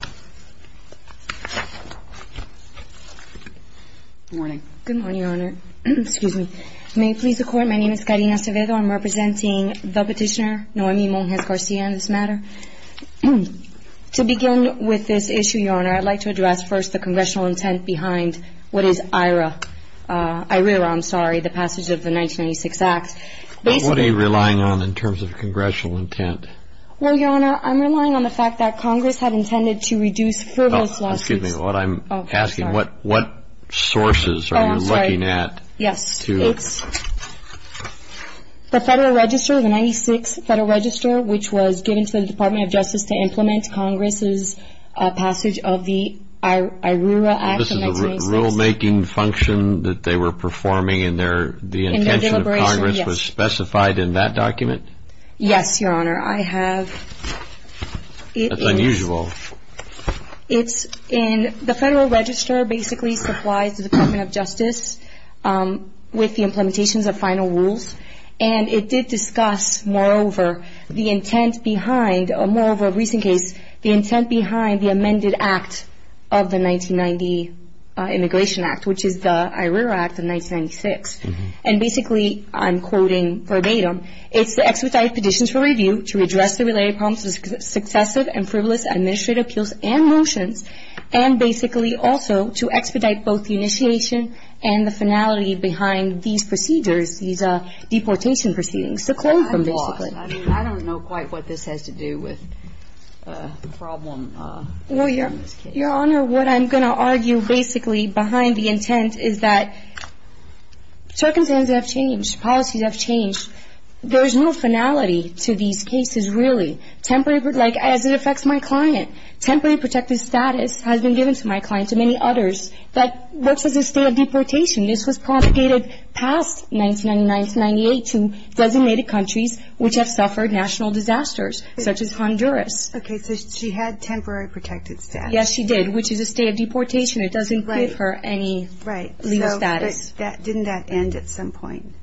Good morning, Your Honor. May it please the Court, my name is Karina Acevedo. I'm representing the petitioner, Noemi Monges-Garcia, in this matter. To begin with this issue, Your Honor, I'd like to address first the congressional intent behind what is IRA, IRERA, I'm sorry, the passage of the 1996 Act. What are you relying on in terms of congressional intent? Well, Your Honor, I'm relying on the fact that Congress had intended to reduce frivolous lawsuits. Oh, excuse me, I'm asking what sources are you looking at? Oh, I'm sorry. Yes, it's the Federal Register, the 1996 Federal Register, which was given to the Department of Justice to implement Congress's passage of the IRERA Act of 1996. This is a rulemaking function that they were performing and their, the intention of Congress was specified in that document? Yes, Your Honor, I have. That's unusual. It's in, the Federal Register basically supplies the Department of Justice with the implementations of final rules and it did discuss, moreover, the intent behind, moreover, a recent case, the intent behind the amended act of the 1990 Immigration Act, which is the IRERA Act of 1996. And basically, I'm quoting verbatim, it's the expedited petitions for review to address the related problems of successive and frivolous administrative appeals and motions, and basically also to expedite both the initiation and the finality behind these procedures, these deportation proceedings. I'm lost. I mean, I don't know quite what this has to do with the problem in this case. Well, Your Honor, what I'm going to argue basically behind the intent is that circumstances have changed. Policies have changed. There's no finality to these cases, really. Temporary, like as it affects my client. Temporary protected status has been given to my client and many others. That works as a state of deportation. This was propagated past 1999 to 1998 to designated countries which have suffered national disasters, such as Honduras. Okay, so she had temporary protected status. Yes, she did, which is a state of deportation. It doesn't give her any legal status. But didn't that end at some point?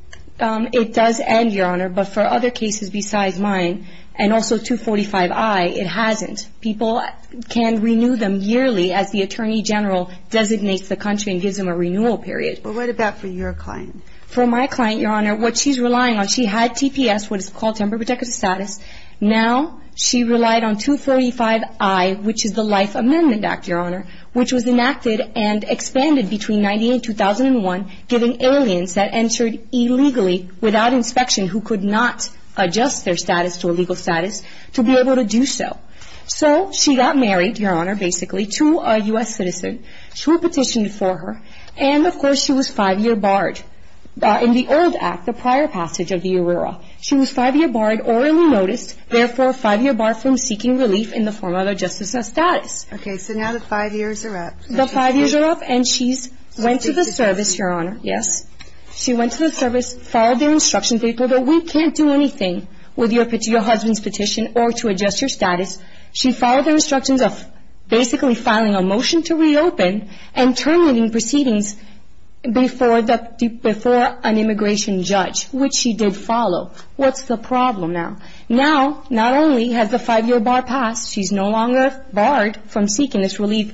It does end, Your Honor, but for other cases besides mine, and also 245I, it hasn't. People can renew them yearly as the Attorney General designates the country and gives them a renewal period. But what about for your client? For my client, Your Honor, what she's relying on, she had TPS, what is called temporary protected status. Now she relied on 235I, which is the Life Amendment Act, Your Honor, which was enacted and expanded between 1998 and 2001, giving aliens that entered illegally without inspection, who could not adjust their status to a legal status, to be able to do so. So she got married, Your Honor, basically, to a U.S. citizen who petitioned for her. And of course, she was five-year barred in the old act, the prior passage of the URERA. She was five-year barred, orally noticed, therefore five-year barred from seeking relief in the form of a justice of status. Okay, so now the five years are up. The five years are up, and she's went to the service, Your Honor, yes. She went to the service, followed the instructions, they told her, we can't do anything with your husband's petition or to adjust your status. She followed the instructions of basically filing a motion to reopen and terminating proceedings before an immigration judge, which she did follow. What's the problem now? Now, not only has the five-year bar passed, she's no longer barred from seeking this relief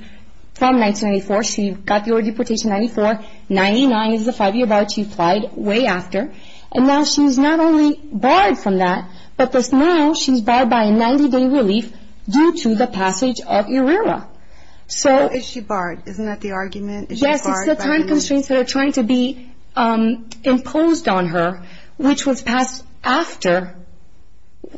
from 1994. She got the oral deportation in 1994, 99 is the five-year bar she applied way after. And now she's not only barred from that, but now she's barred by a 90-day relief due to the passage of URERA. So is she barred? Isn't that the argument? Yes, it's the time constraints that are trying to be imposed on her, which was passed after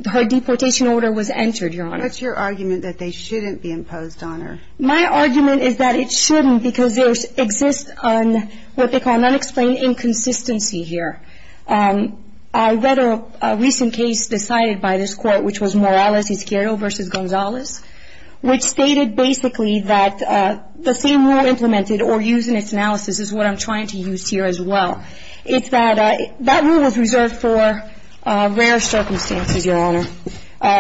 her deportation order was entered, Your Honor. What's your argument that they shouldn't be imposed on her? My argument is that it shouldn't, because there exists what they call an unexplained inconsistency here. I read a recent case decided by this court, which was Morales v. Gonzalez, which stated basically that the same rule implemented or used in its analysis is what I'm trying to use here as well. It's that that rule is reserved for rare circumstances, Your Honor,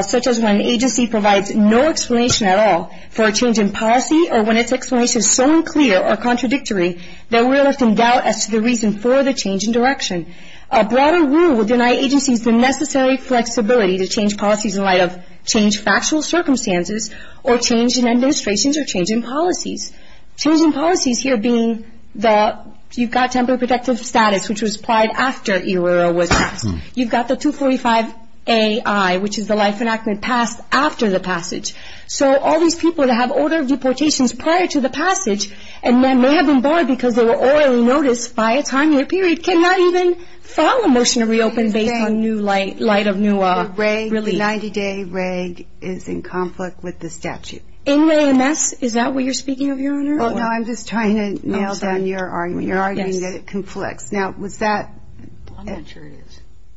such as when an agency provides no explanation at all for a change in policy or when its explanation is so unclear or contradictory that we're left in doubt as to the reason for the change in direction. A broader rule would deny agencies the necessary flexibility to change policies in light of changed factual circumstances or change in administrations or change in policies. Change in policies here being that you've got temporary protective status, which was applied after Irura was passed. You've got the 245A-I, which is the life enactment passed after the passage. So all these people that have order of deportations prior to the passage and then may have been barred because they were orally noticed by a timely period cannot even file a motion to reopen based on new light, light of new relief. The 90-day reg is in conflict with the statute. Well, I'm just trying to nail down your argument. Your argument is that it conflicts. Now, was that,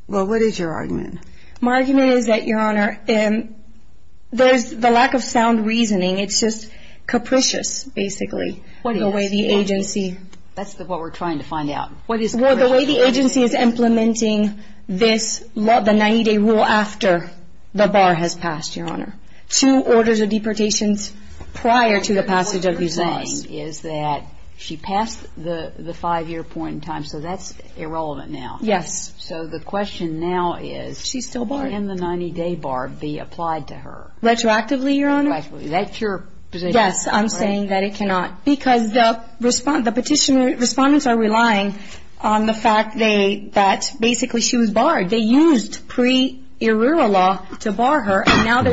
well, what is your argument? My argument is that, Your Honor, there's the lack of sound reasoning. It's just capricious basically, the way the agency. That's what we're trying to find out. Well, the way the agency is implementing this, the 90-day rule after the bar has passed, Your Honor, two orders of deportations prior to the passage of the regime is that she passed the five-year point in time. So that's irrelevant now. Yes. So the question now is, can the 90-day bar be applied to her? Retroactively, Your Honor. Retroactively. That's your position. Yes. I'm saying that it cannot because the petitioner, respondents are relying on the We're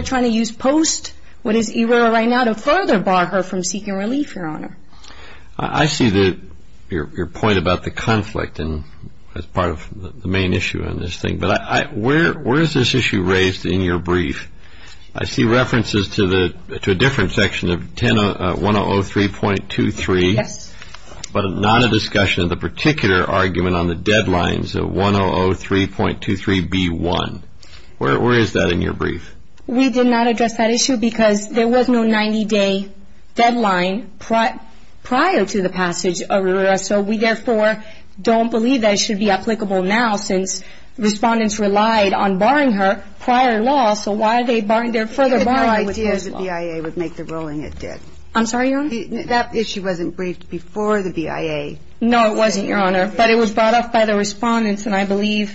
trying to use post, what is ere right now, to further bar her from seeking relief, Your Honor. I see your point about the conflict as part of the main issue on this thing. But where is this issue raised in your brief? I see references to a different section of 1003.23, but not a discussion of the particular argument on the deadlines of 1003.23B1. Where is that in your brief? We did not address that issue because there was no 90-day deadline prior to the passage of RERA. So we, therefore, don't believe that it should be applicable now since respondents relied on barring her prior to law. So why are they further barring her? I had no idea the BIA would make the ruling it did. I'm sorry, Your Honor? That issue wasn't briefed before the BIA. No, it wasn't, Your Honor. But it was brought up by the respondents. And I believe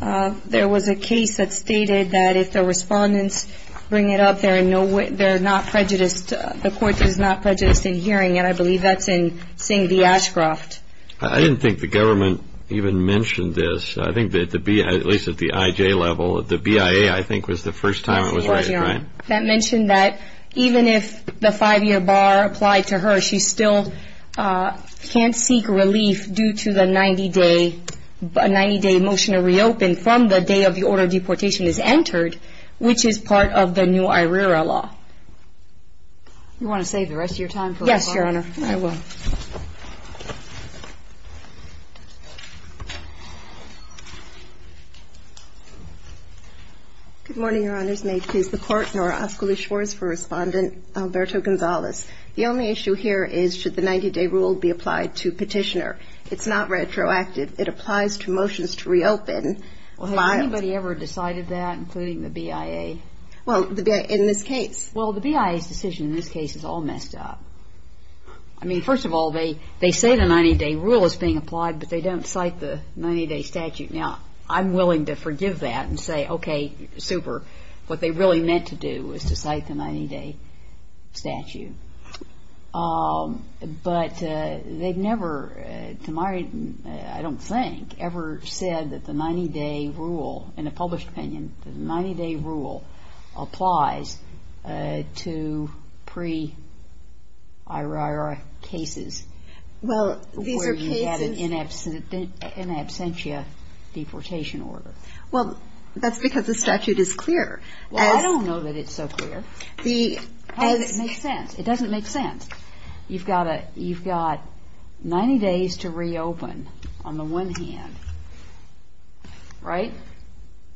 there was a case that stated that if the respondents bring it up, they're not prejudiced. The court is not prejudiced in hearing. And I believe that's in Singh v. Ashcroft. I didn't think the government even mentioned this. I think that the BIA, at least at the IJ level, the BIA, I think, was the first time it was raised, right? That mentioned that even if the five-year bar applied to her, she still can't seek relief due to the 90-day motion to reopen from the day of the order of deportation is entered, which is part of the new IRERA law. Do you want to save the rest of your time for rebuttal? Yes, Your Honor. I will. Good morning, Your Honors. May it please the Court, Nora Oskoli-Schwarz for Respondent Alberto Gonzalez. The only issue here is, should the 90-day rule be applied to petitioner? It's not retroactive. It applies to motions to reopen. Well, has anybody ever decided that, including the BIA? Well, in this case. Well, the BIA's decision in this case is all messed up. I mean, first of all, they say the 90-day rule is being applied, but they don't cite the 90-day statute. Now, I'm willing to forgive that and say, okay, super. What they really meant to do was to cite the 90-day statute. But they've never, to my, I don't think, ever said that the 90-day rule, in a published opinion, the 90-day rule applies to pre-IRERA cases where you had an in absentia deportation order. Well, that's because the statute is clear. Well, I don't know that it's so clear. The How does it make sense? It doesn't make sense. You've got 90 days to reopen, on the one hand. Right?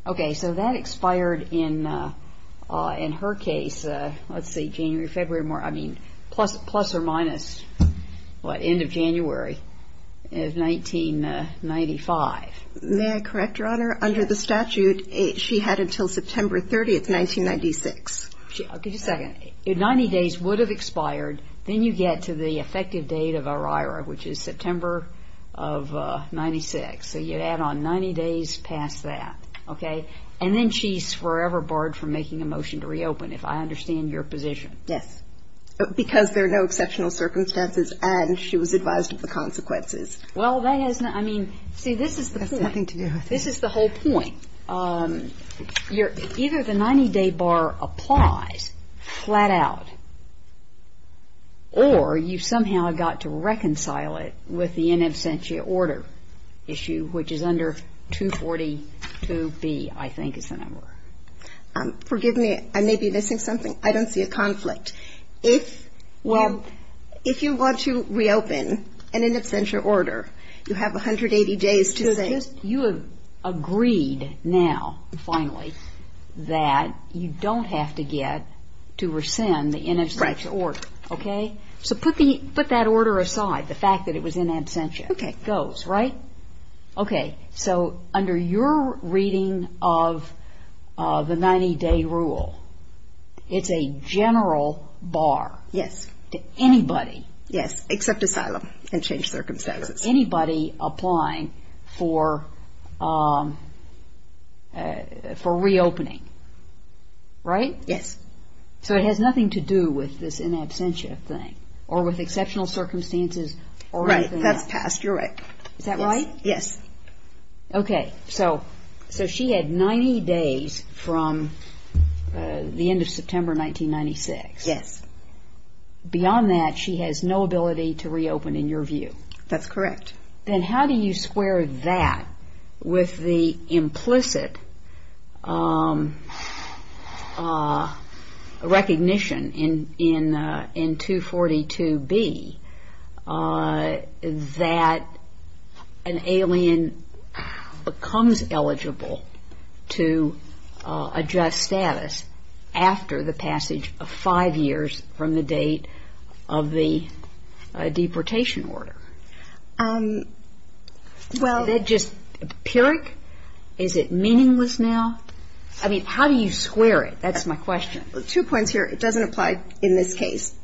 Okay, so that expired in her case, let's see, January, February, I mean, plus or minus, what, end of January of 1995. May I correct, Your Honor? Under the statute, she had until September 30th, 1996. I'll give you a second. If 90 days would have expired, then you get to the effective date of IRERA, which is September of 96. So you add on 90 days past that, okay? And then she's forever barred from making a motion to reopen, if I understand your position. Yes. Because there are no exceptional circumstances, and she was advised of the consequences. Well, that has not, I mean, see, this is the point. That's nothing to do with it. This is the whole point. Either the 90-day bar applies flat out, or you somehow got to reconcile it with the in absentia order issue, which is under 242B, I think is the number. Forgive me, I may be missing something. I don't see a conflict. If you want to reopen an in absentia order, you have 180 days to say. So you have agreed now, finally, that you don't have to get to rescind the in absentia order, okay? So put that order aside, the fact that it was in absentia. Okay. And then it goes, right? Okay. So under your reading of the 90-day rule, it's a general bar. Yes. To anybody. Yes, except asylum and changed circumstances. Anybody applying for reopening, right? Yes. So it has nothing to do with this in absentia thing, or with exceptional circumstances, or anything else. No, that's passed. You're right. Is that right? Yes. Okay. So she had 90 days from the end of September 1996. Yes. Beyond that, she has no ability to reopen, in your view. That's correct. Then how do you square that with the implicit recognition in 242B that she has no ability that an alien becomes eligible to adjust status after the passage of five years from the date of the deportation order? Well. Is that just empiric? Is it meaningless now? I mean, how do you square it? That's my question. Two points here. It doesn't apply in this case.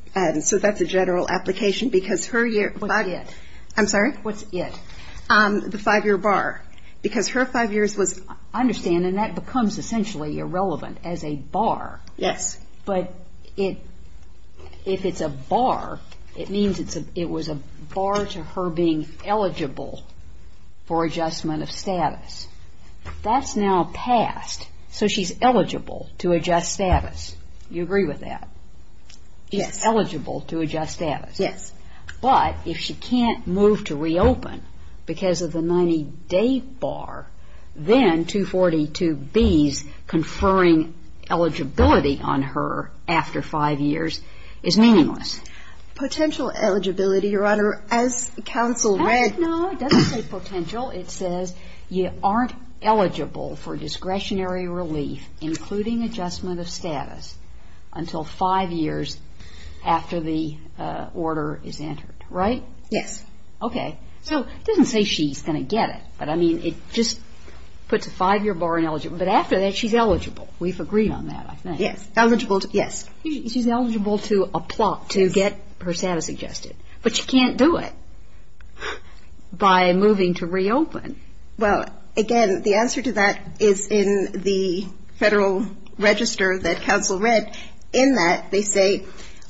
So that's a general application, because her body I'm sorry? What's it? The five-year bar. Because her five years was I understand. And that becomes essentially irrelevant as a bar. Yes. But if it's a bar, it means it was a bar to her being eligible for adjustment of status. That's now passed. So she's eligible to adjust status. You agree with that? Yes. She's eligible to adjust status. Yes. But if she can't move to reopen because of the 90-day bar, then 242B's conferring eligibility on her after five years is meaningless. Potential eligibility, Your Honor. As counsel read No, it doesn't say potential. It says you aren't eligible for discretionary relief, including adjustment of status, until five years after the order is passed. Yes. Okay. So it doesn't say she's going to get it. But, I mean, it just puts a five-year bar ineligible. But after that, she's eligible. We've agreed on that, I think. Yes. Eligible to, yes. She's eligible to applaud, to get her status adjusted. But she can't do it by moving to reopen. Well, again, the answer to that is in the Federal Register that counsel read. In that, they say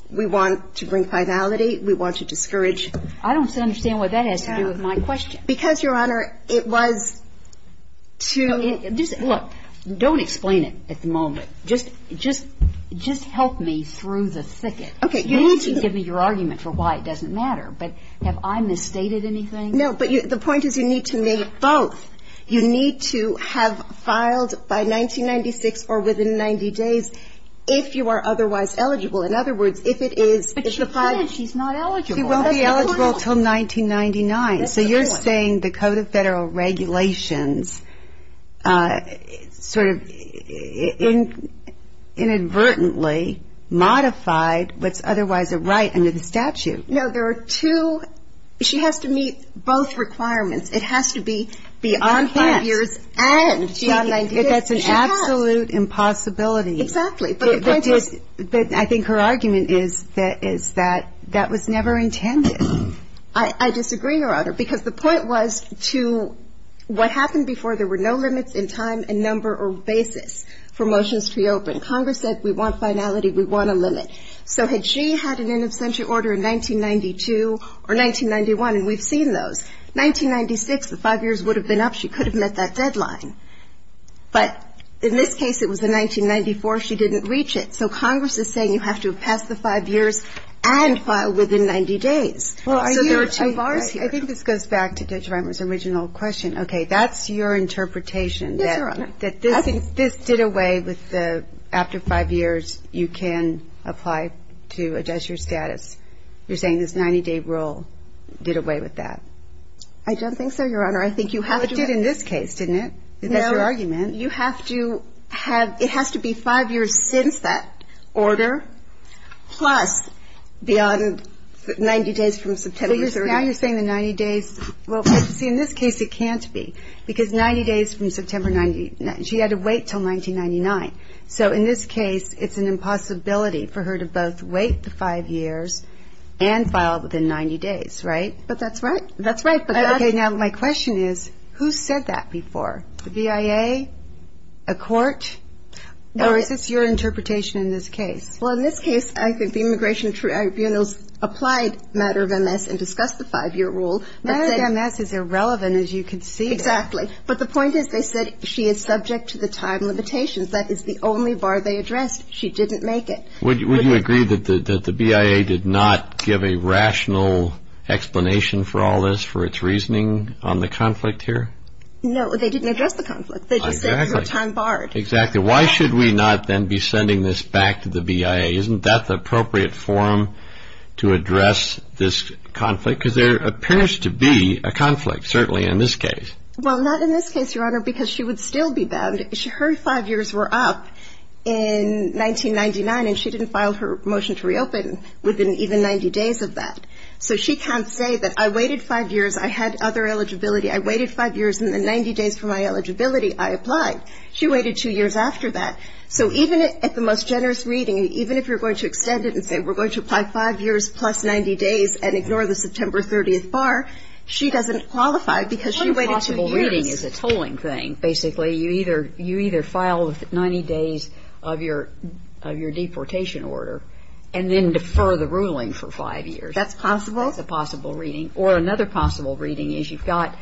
we want to bring finality. We want to change it. But if she can't move to reopen, then we can't. But if she can't move to reopen, then we can't. I don't understand what that has to do with my question. Because, Your Honor, it was to Look. Don't explain it at the moment. Just help me through the thicket. Okay. You need to You need to give me your argument for why it doesn't matter. But have I misstated anything? No. But the point is you need to meet both. You need to have filed by 1996 or within 90 days if you are otherwise eligible. In other words, if it is But she did. She's not eligible. She won't be eligible until 1999. That's a good one. So you're saying the Code of Federal Regulations sort of inadvertently modified what's otherwise a right under the statute. No. There are two She has to meet both requirements. It has to be beyond 90 years and beyond 90 days. That's an absolute impossibility. Exactly. But the point is But I think her argument is that that was never intended. I disagree, Your Honor, because the point was to what happened before there were no limits in time and number or basis for motions to reopen. Congress said we want finality. We want a limit. So had she had an in absentia order in 1992 or 1991, and we've seen those, 1996, the 5 years would have been up. She could have met that deadline. But in this case, it was in 1994. She didn't reach it. So Congress is saying you have to have passed the 5 years and filed within 90 days. So there are two bars here. I think this goes back to Judge Reimer's original question. Okay. That's your interpretation. Yes, Your Honor. That this did away with the after 5 years, you can apply to adjust your status. You're saying this 90-day rule did away with that. I don't think so, Your Honor. I think you have to It did in this case, didn't it? No. That's your argument. You have to have – it has to be 5 years since that order plus beyond 90 days from September 30th. She had to wait until 1999. So in this case, it's an impossibility for her to both wait the 5 years and file within 90 days, right? But that's right. That's right. Okay. Now, my question is, who said that before? The BIA, a court, or is this your interpretation in this case? Well, in this case, I think the Immigration Tribunals applied matter of MS and discussed the 5-year rule. Matter of MS is irrelevant, as you can see. Exactly. But the point is they said she is subject to the time limitations. That is the only bar they addressed. She didn't make it. Would you agree that the BIA did not give a rational explanation for all this, for its reasoning on the conflict here? No, they didn't address the conflict. They just said her time barred. Exactly. Why should we not then be sending this back to the BIA? Isn't that the appropriate forum to address this conflict? Because there appears to be a conflict, certainly, in this case. Well, not in this case, Your Honor, because she would still be banned. Her 5 years were up in 1999, and she didn't file her motion to reopen within even 90 days of that. So she can't say that I waited 5 years, I had other eligibility, I waited 5 years, and then 90 days from my eligibility, I applied. She waited 2 years after that. So even at the most generous reading, even if you're going to extend it and say we're going to apply 5 years plus 90 days and ignore the September 30th bar, she doesn't qualify because she waited 2 years. One possible reading is a tolling thing. Basically, you either file 90 days of your deportation order and then defer the ruling for 5 years. That's possible. That's a possible reading. Or another possible reading is you've got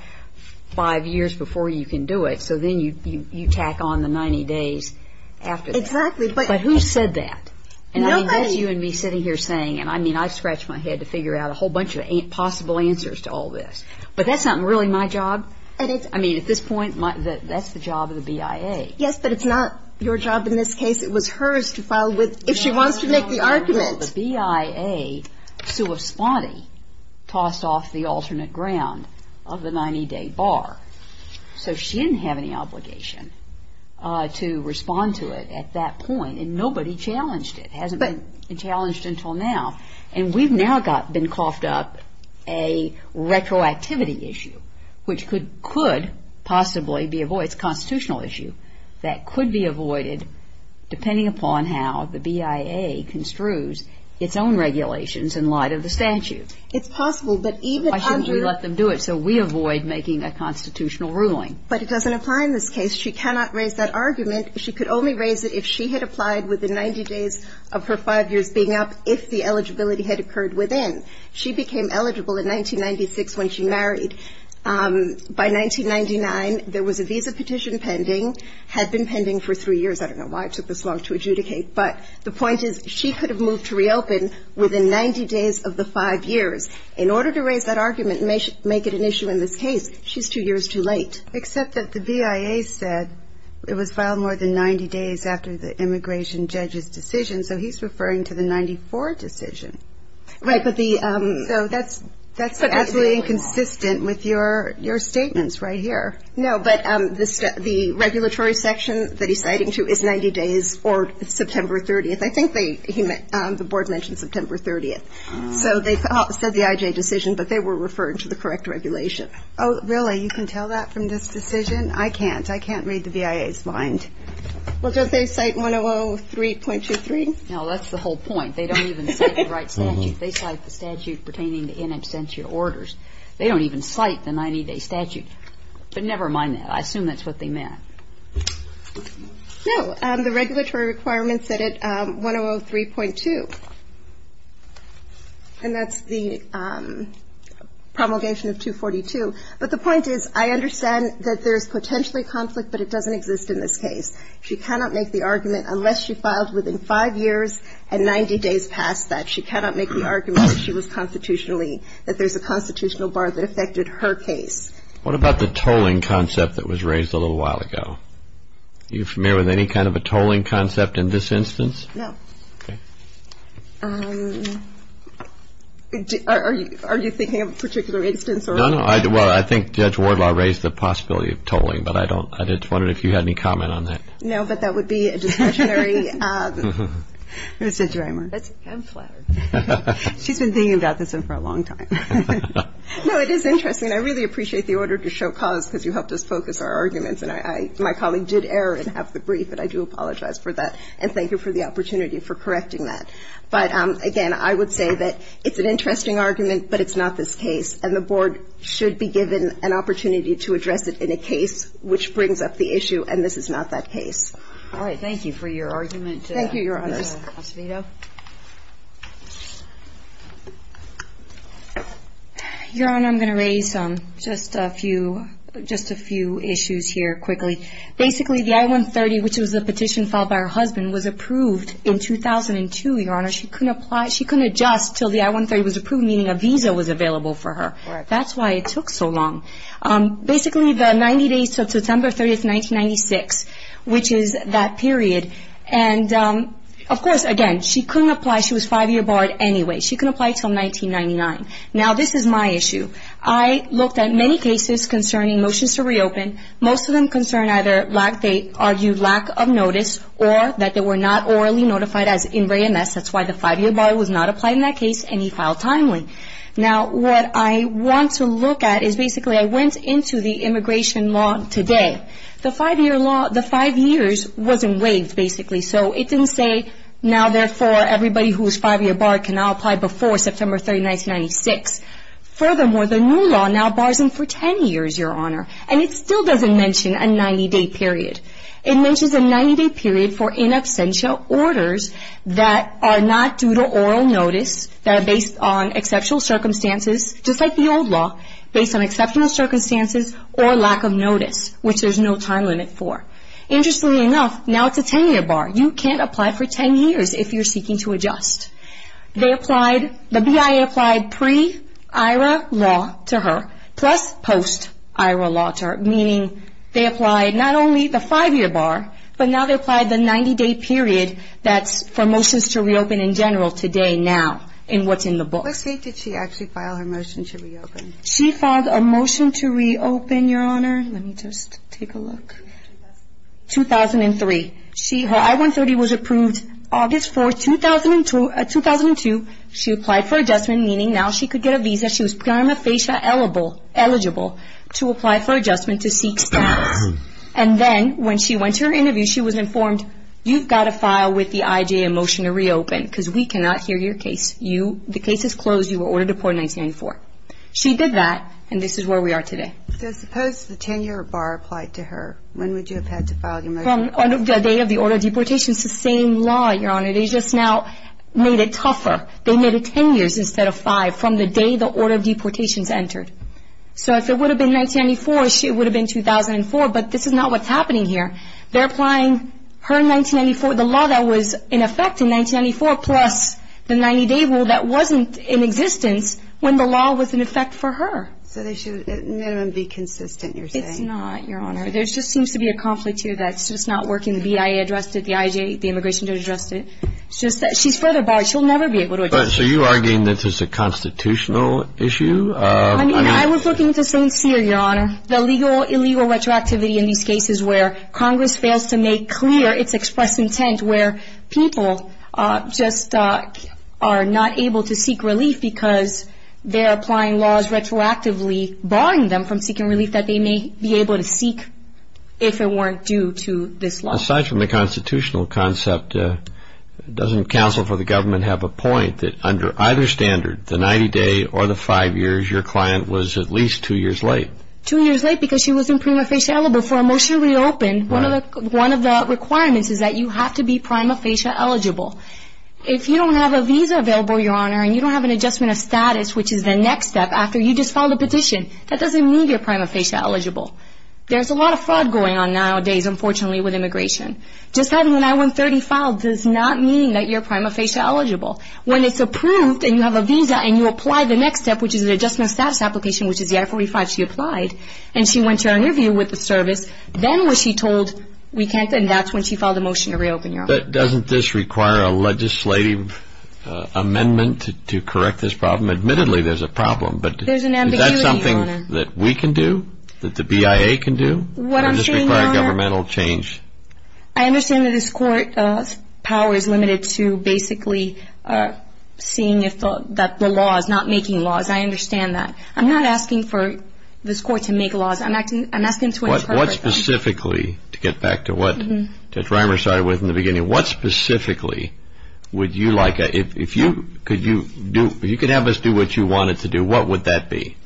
5 years before you can do it, so then you tack on the 90 days after that. Exactly. But who said that? Nobody. That's you and me sitting here saying, and I mean, I've scratched my head to figure out a whole bunch of possible answers to all this. But that's not really my job. I mean, at this point, that's the job of the BIA. Yes, but it's not your job in this case. It was hers to file with if she wants to make the argument. No, no, no. The BIA, sua sponte, tossed off the alternate ground of the 90-day bar. So she didn't have any obligation to respond to it at that point, and nobody challenged it. It hasn't been challenged until now. And we've now been coughed up a retroactivity issue, which could possibly be avoided. It's a constitutional issue that could be avoided depending upon how the BIA construes its own regulations in light of the statute. It's possible, but even under — Why shouldn't we let them do it so we avoid making a constitutional ruling? But it doesn't apply in this case. She cannot raise that argument. She could only raise it if she had applied within 90 days of her five years being up, if the eligibility had occurred within. She became eligible in 1996 when she married. By 1999, there was a visa petition pending, had been pending for three years. I don't know why it took this long to adjudicate. But the point is she could have moved to reopen within 90 days of the five years. In order to raise that argument and make it an issue in this case, she's two years too late. Except that the BIA said it was filed more than 90 days after the immigration judge's decision. So he's referring to the 94 decision. Right. So that's absolutely inconsistent with your statements right here. No, but the regulatory section that he's citing to is 90 days or September 30th. I think the board mentioned September 30th. So they said the IJ decision, but they were referring to the correct regulation. Oh, really? You can tell that from this decision? I can't. I can't read the BIA's mind. Well, don't they cite 1003.23? No, that's the whole point. They don't even cite the right statute. They cite the statute pertaining to in absentia orders. They don't even cite the 90-day statute. But never mind that. I assume that's what they meant. No. The regulatory requirement said it, 1003.2. And that's the promulgation of 242. But the point is I understand that there's potentially conflict, but it doesn't exist in this case. She cannot make the argument unless she filed within five years and 90 days past that. She cannot make the argument that she was constitutionally, that there's a constitutional bar that affected her case. What about the tolling concept that was raised a little while ago? Are you familiar with any kind of a tolling concept in this instance? No. Okay. Are you thinking of a particular instance? No, no. Well, I think Judge Wardlaw raised the possibility of tolling, but I don't. I just wondered if you had any comment on that. No, but that would be a discretionary. Where's Judge Reimer? I'm flattered. She's been thinking about this one for a long time. No, it is interesting. I really appreciate the order to show cause because you helped us focus our arguments. And my colleague did err and have the brief, and I do apologize for that. And thank you for the opportunity for correcting that. But, again, I would say that it's an interesting argument, but it's not this case. And the Board should be given an opportunity to address it in a case which brings up the issue, and this is not that case. All right. Thank you for your argument. Thank you, Your Honors. Ms. Acevedo. Your Honor, I'm going to raise just a few issues here quickly. Basically, the I-130, which was a petition filed by her husband, was approved in 2002, Your Honor. She couldn't apply. She couldn't adjust until the I-130 was approved, meaning a visa was available for her. That's why it took so long. Basically, the 90 days to September 30, 1996, which is that period, and, of course, again, she couldn't apply. She was five-year barred anyway. She couldn't apply until 1999. Now, this is my issue. I looked at many cases concerning motions to reopen. Most of them concern either they argued lack of notice or that they were not orally notified as in re-MS. That's why the five-year bar was not applied in that case, and he filed timely. Now, what I want to look at is, basically, I went into the immigration law today. The five-year law, the five years wasn't waived, basically. So, it didn't say, now, therefore, everybody who is five-year barred can now apply before September 30, 1996. Furthermore, the new law now bars them for 10 years, Your Honor, and it still doesn't mention a 90-day period. It mentions a 90-day period for in absentia orders that are not due to oral notice, that are based on exceptional circumstances, just like the old law, based on exceptional circumstances or lack of notice, which there's no time limit for. Interestingly enough, now it's a 10-year bar. You can't apply for 10 years if you're seeking to adjust. They applied, the BIA applied pre-IRA law to her, plus post-IRA law to her, meaning they applied not only the five-year bar, but now they applied the 90-day period that's for motions to reopen in general today, now, in what's in the book. What date did she actually file her motion to reopen? She filed a motion to reopen, Your Honor. Let me just take a look. 2003. Her I-130 was approved August 4, 2002. She applied for adjustment, meaning now she could get a visa. She was prima facie eligible to apply for adjustment to seek status. And then when she went to her interview, she was informed, you've got to file with the IJ a motion to reopen because we cannot hear your case. The case is closed. You were ordered to report in 1994. She did that, and this is where we are today. So suppose the 10-year bar applied to her. When would you have had to file your motion? On the day of the order of deportation. It's the same law, Your Honor. They just now made it tougher. They made it 10 years instead of five from the day the order of deportation is entered. So if it would have been 1994, it would have been 2004, but this is not what's happening here. They're applying her 1994, the law that was in effect in 1994, plus the 90-day rule that wasn't in existence when the law was in effect for her. So they should, at minimum, be consistent, you're saying? It's not, Your Honor. There just seems to be a conflict here that's just not working. The BIA addressed it. The IJ, the immigration judge addressed it. It's just that she's further barred. She'll never be able to address it. So you're arguing that this is a constitutional issue? I mean, I was looking at the same sphere, Your Honor. The legal, illegal retroactivity in these cases where Congress fails to make clear its expressed intent, where people just are not able to seek relief because they're applying laws retroactively, barring them from seeking relief that they may be able to seek if it weren't due to this law. Aside from the constitutional concept, doesn't counsel for the government have a point that under either standard, the 90-day or the five years, your client was at least two years late? Two years late because she was in prima facie eligible for a motion to reopen. One of the requirements is that you have to be prima facie eligible. If you don't have a visa available, Your Honor, and you don't have an adjustment of status, which is the next step after you just filed a petition, that doesn't mean you're prima facie eligible. There's a lot of fraud going on nowadays, unfortunately, with immigration. Just having an I-130 filed does not mean that you're prima facie eligible. When it's approved and you have a visa and you apply the next step, which is an adjustment of status application, which is the I-45 she applied, and she went to an interview with the service, then was she told we can't, and that's when she filed a motion to reopen, Your Honor. Doesn't this require a legislative amendment to correct this problem? Admittedly, there's a problem, but is that something that we can do, that the BIA can do, or does this require governmental change? I understand that this court's power is limited to basically seeing that the law is not making laws. I understand that. I'm not asking for this court to make laws. I'm asking to interpret them. What specifically, to get back to what Judge Reimer started with in the beginning, what specifically would you like, if you could have us do what you wanted to do, what would that be?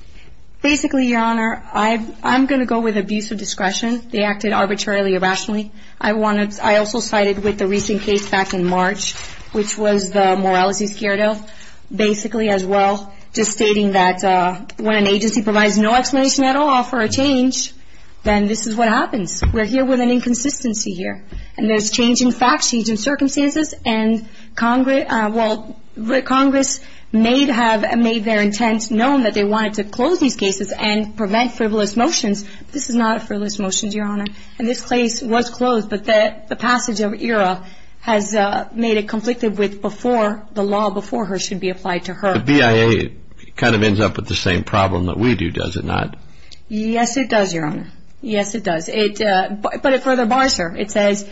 Basically, Your Honor, I'm going to go with abuse of discretion. They acted arbitrarily, irrationally. I also sided with the recent case back in March, which was the Morales-Escuero, basically, as well, just stating that when an agency provides no explanation at all for a change, then this is what happens. We're here with an inconsistency here, and there's change in facts, change in circumstances, and Congress may have made their intent known that they wanted to close these cases and prevent frivolous motions. This is not a frivolous motion, Your Honor, and this case was closed, but the passage of ERA has made it conflicted with before the law before her should be applied to her. But BIA kind of ends up with the same problem that we do, does it not? Yes, it does, Your Honor. Yes, it does. But it further bars her. It says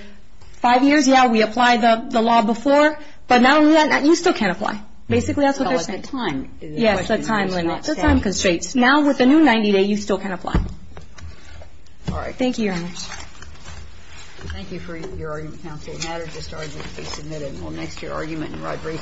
five years, yeah, we apply the law before, but not only that, you still can't apply. Basically, that's what they're saying. Well, it's the time. Yes, the time limit. The time constraints. Now, with the new 90-day, you still can't apply. All right. Thank you, Your Honors. Thank you for your argument, counsel. If you have any matters to start with, please submit them. We'll next hear argument in Rodriguez.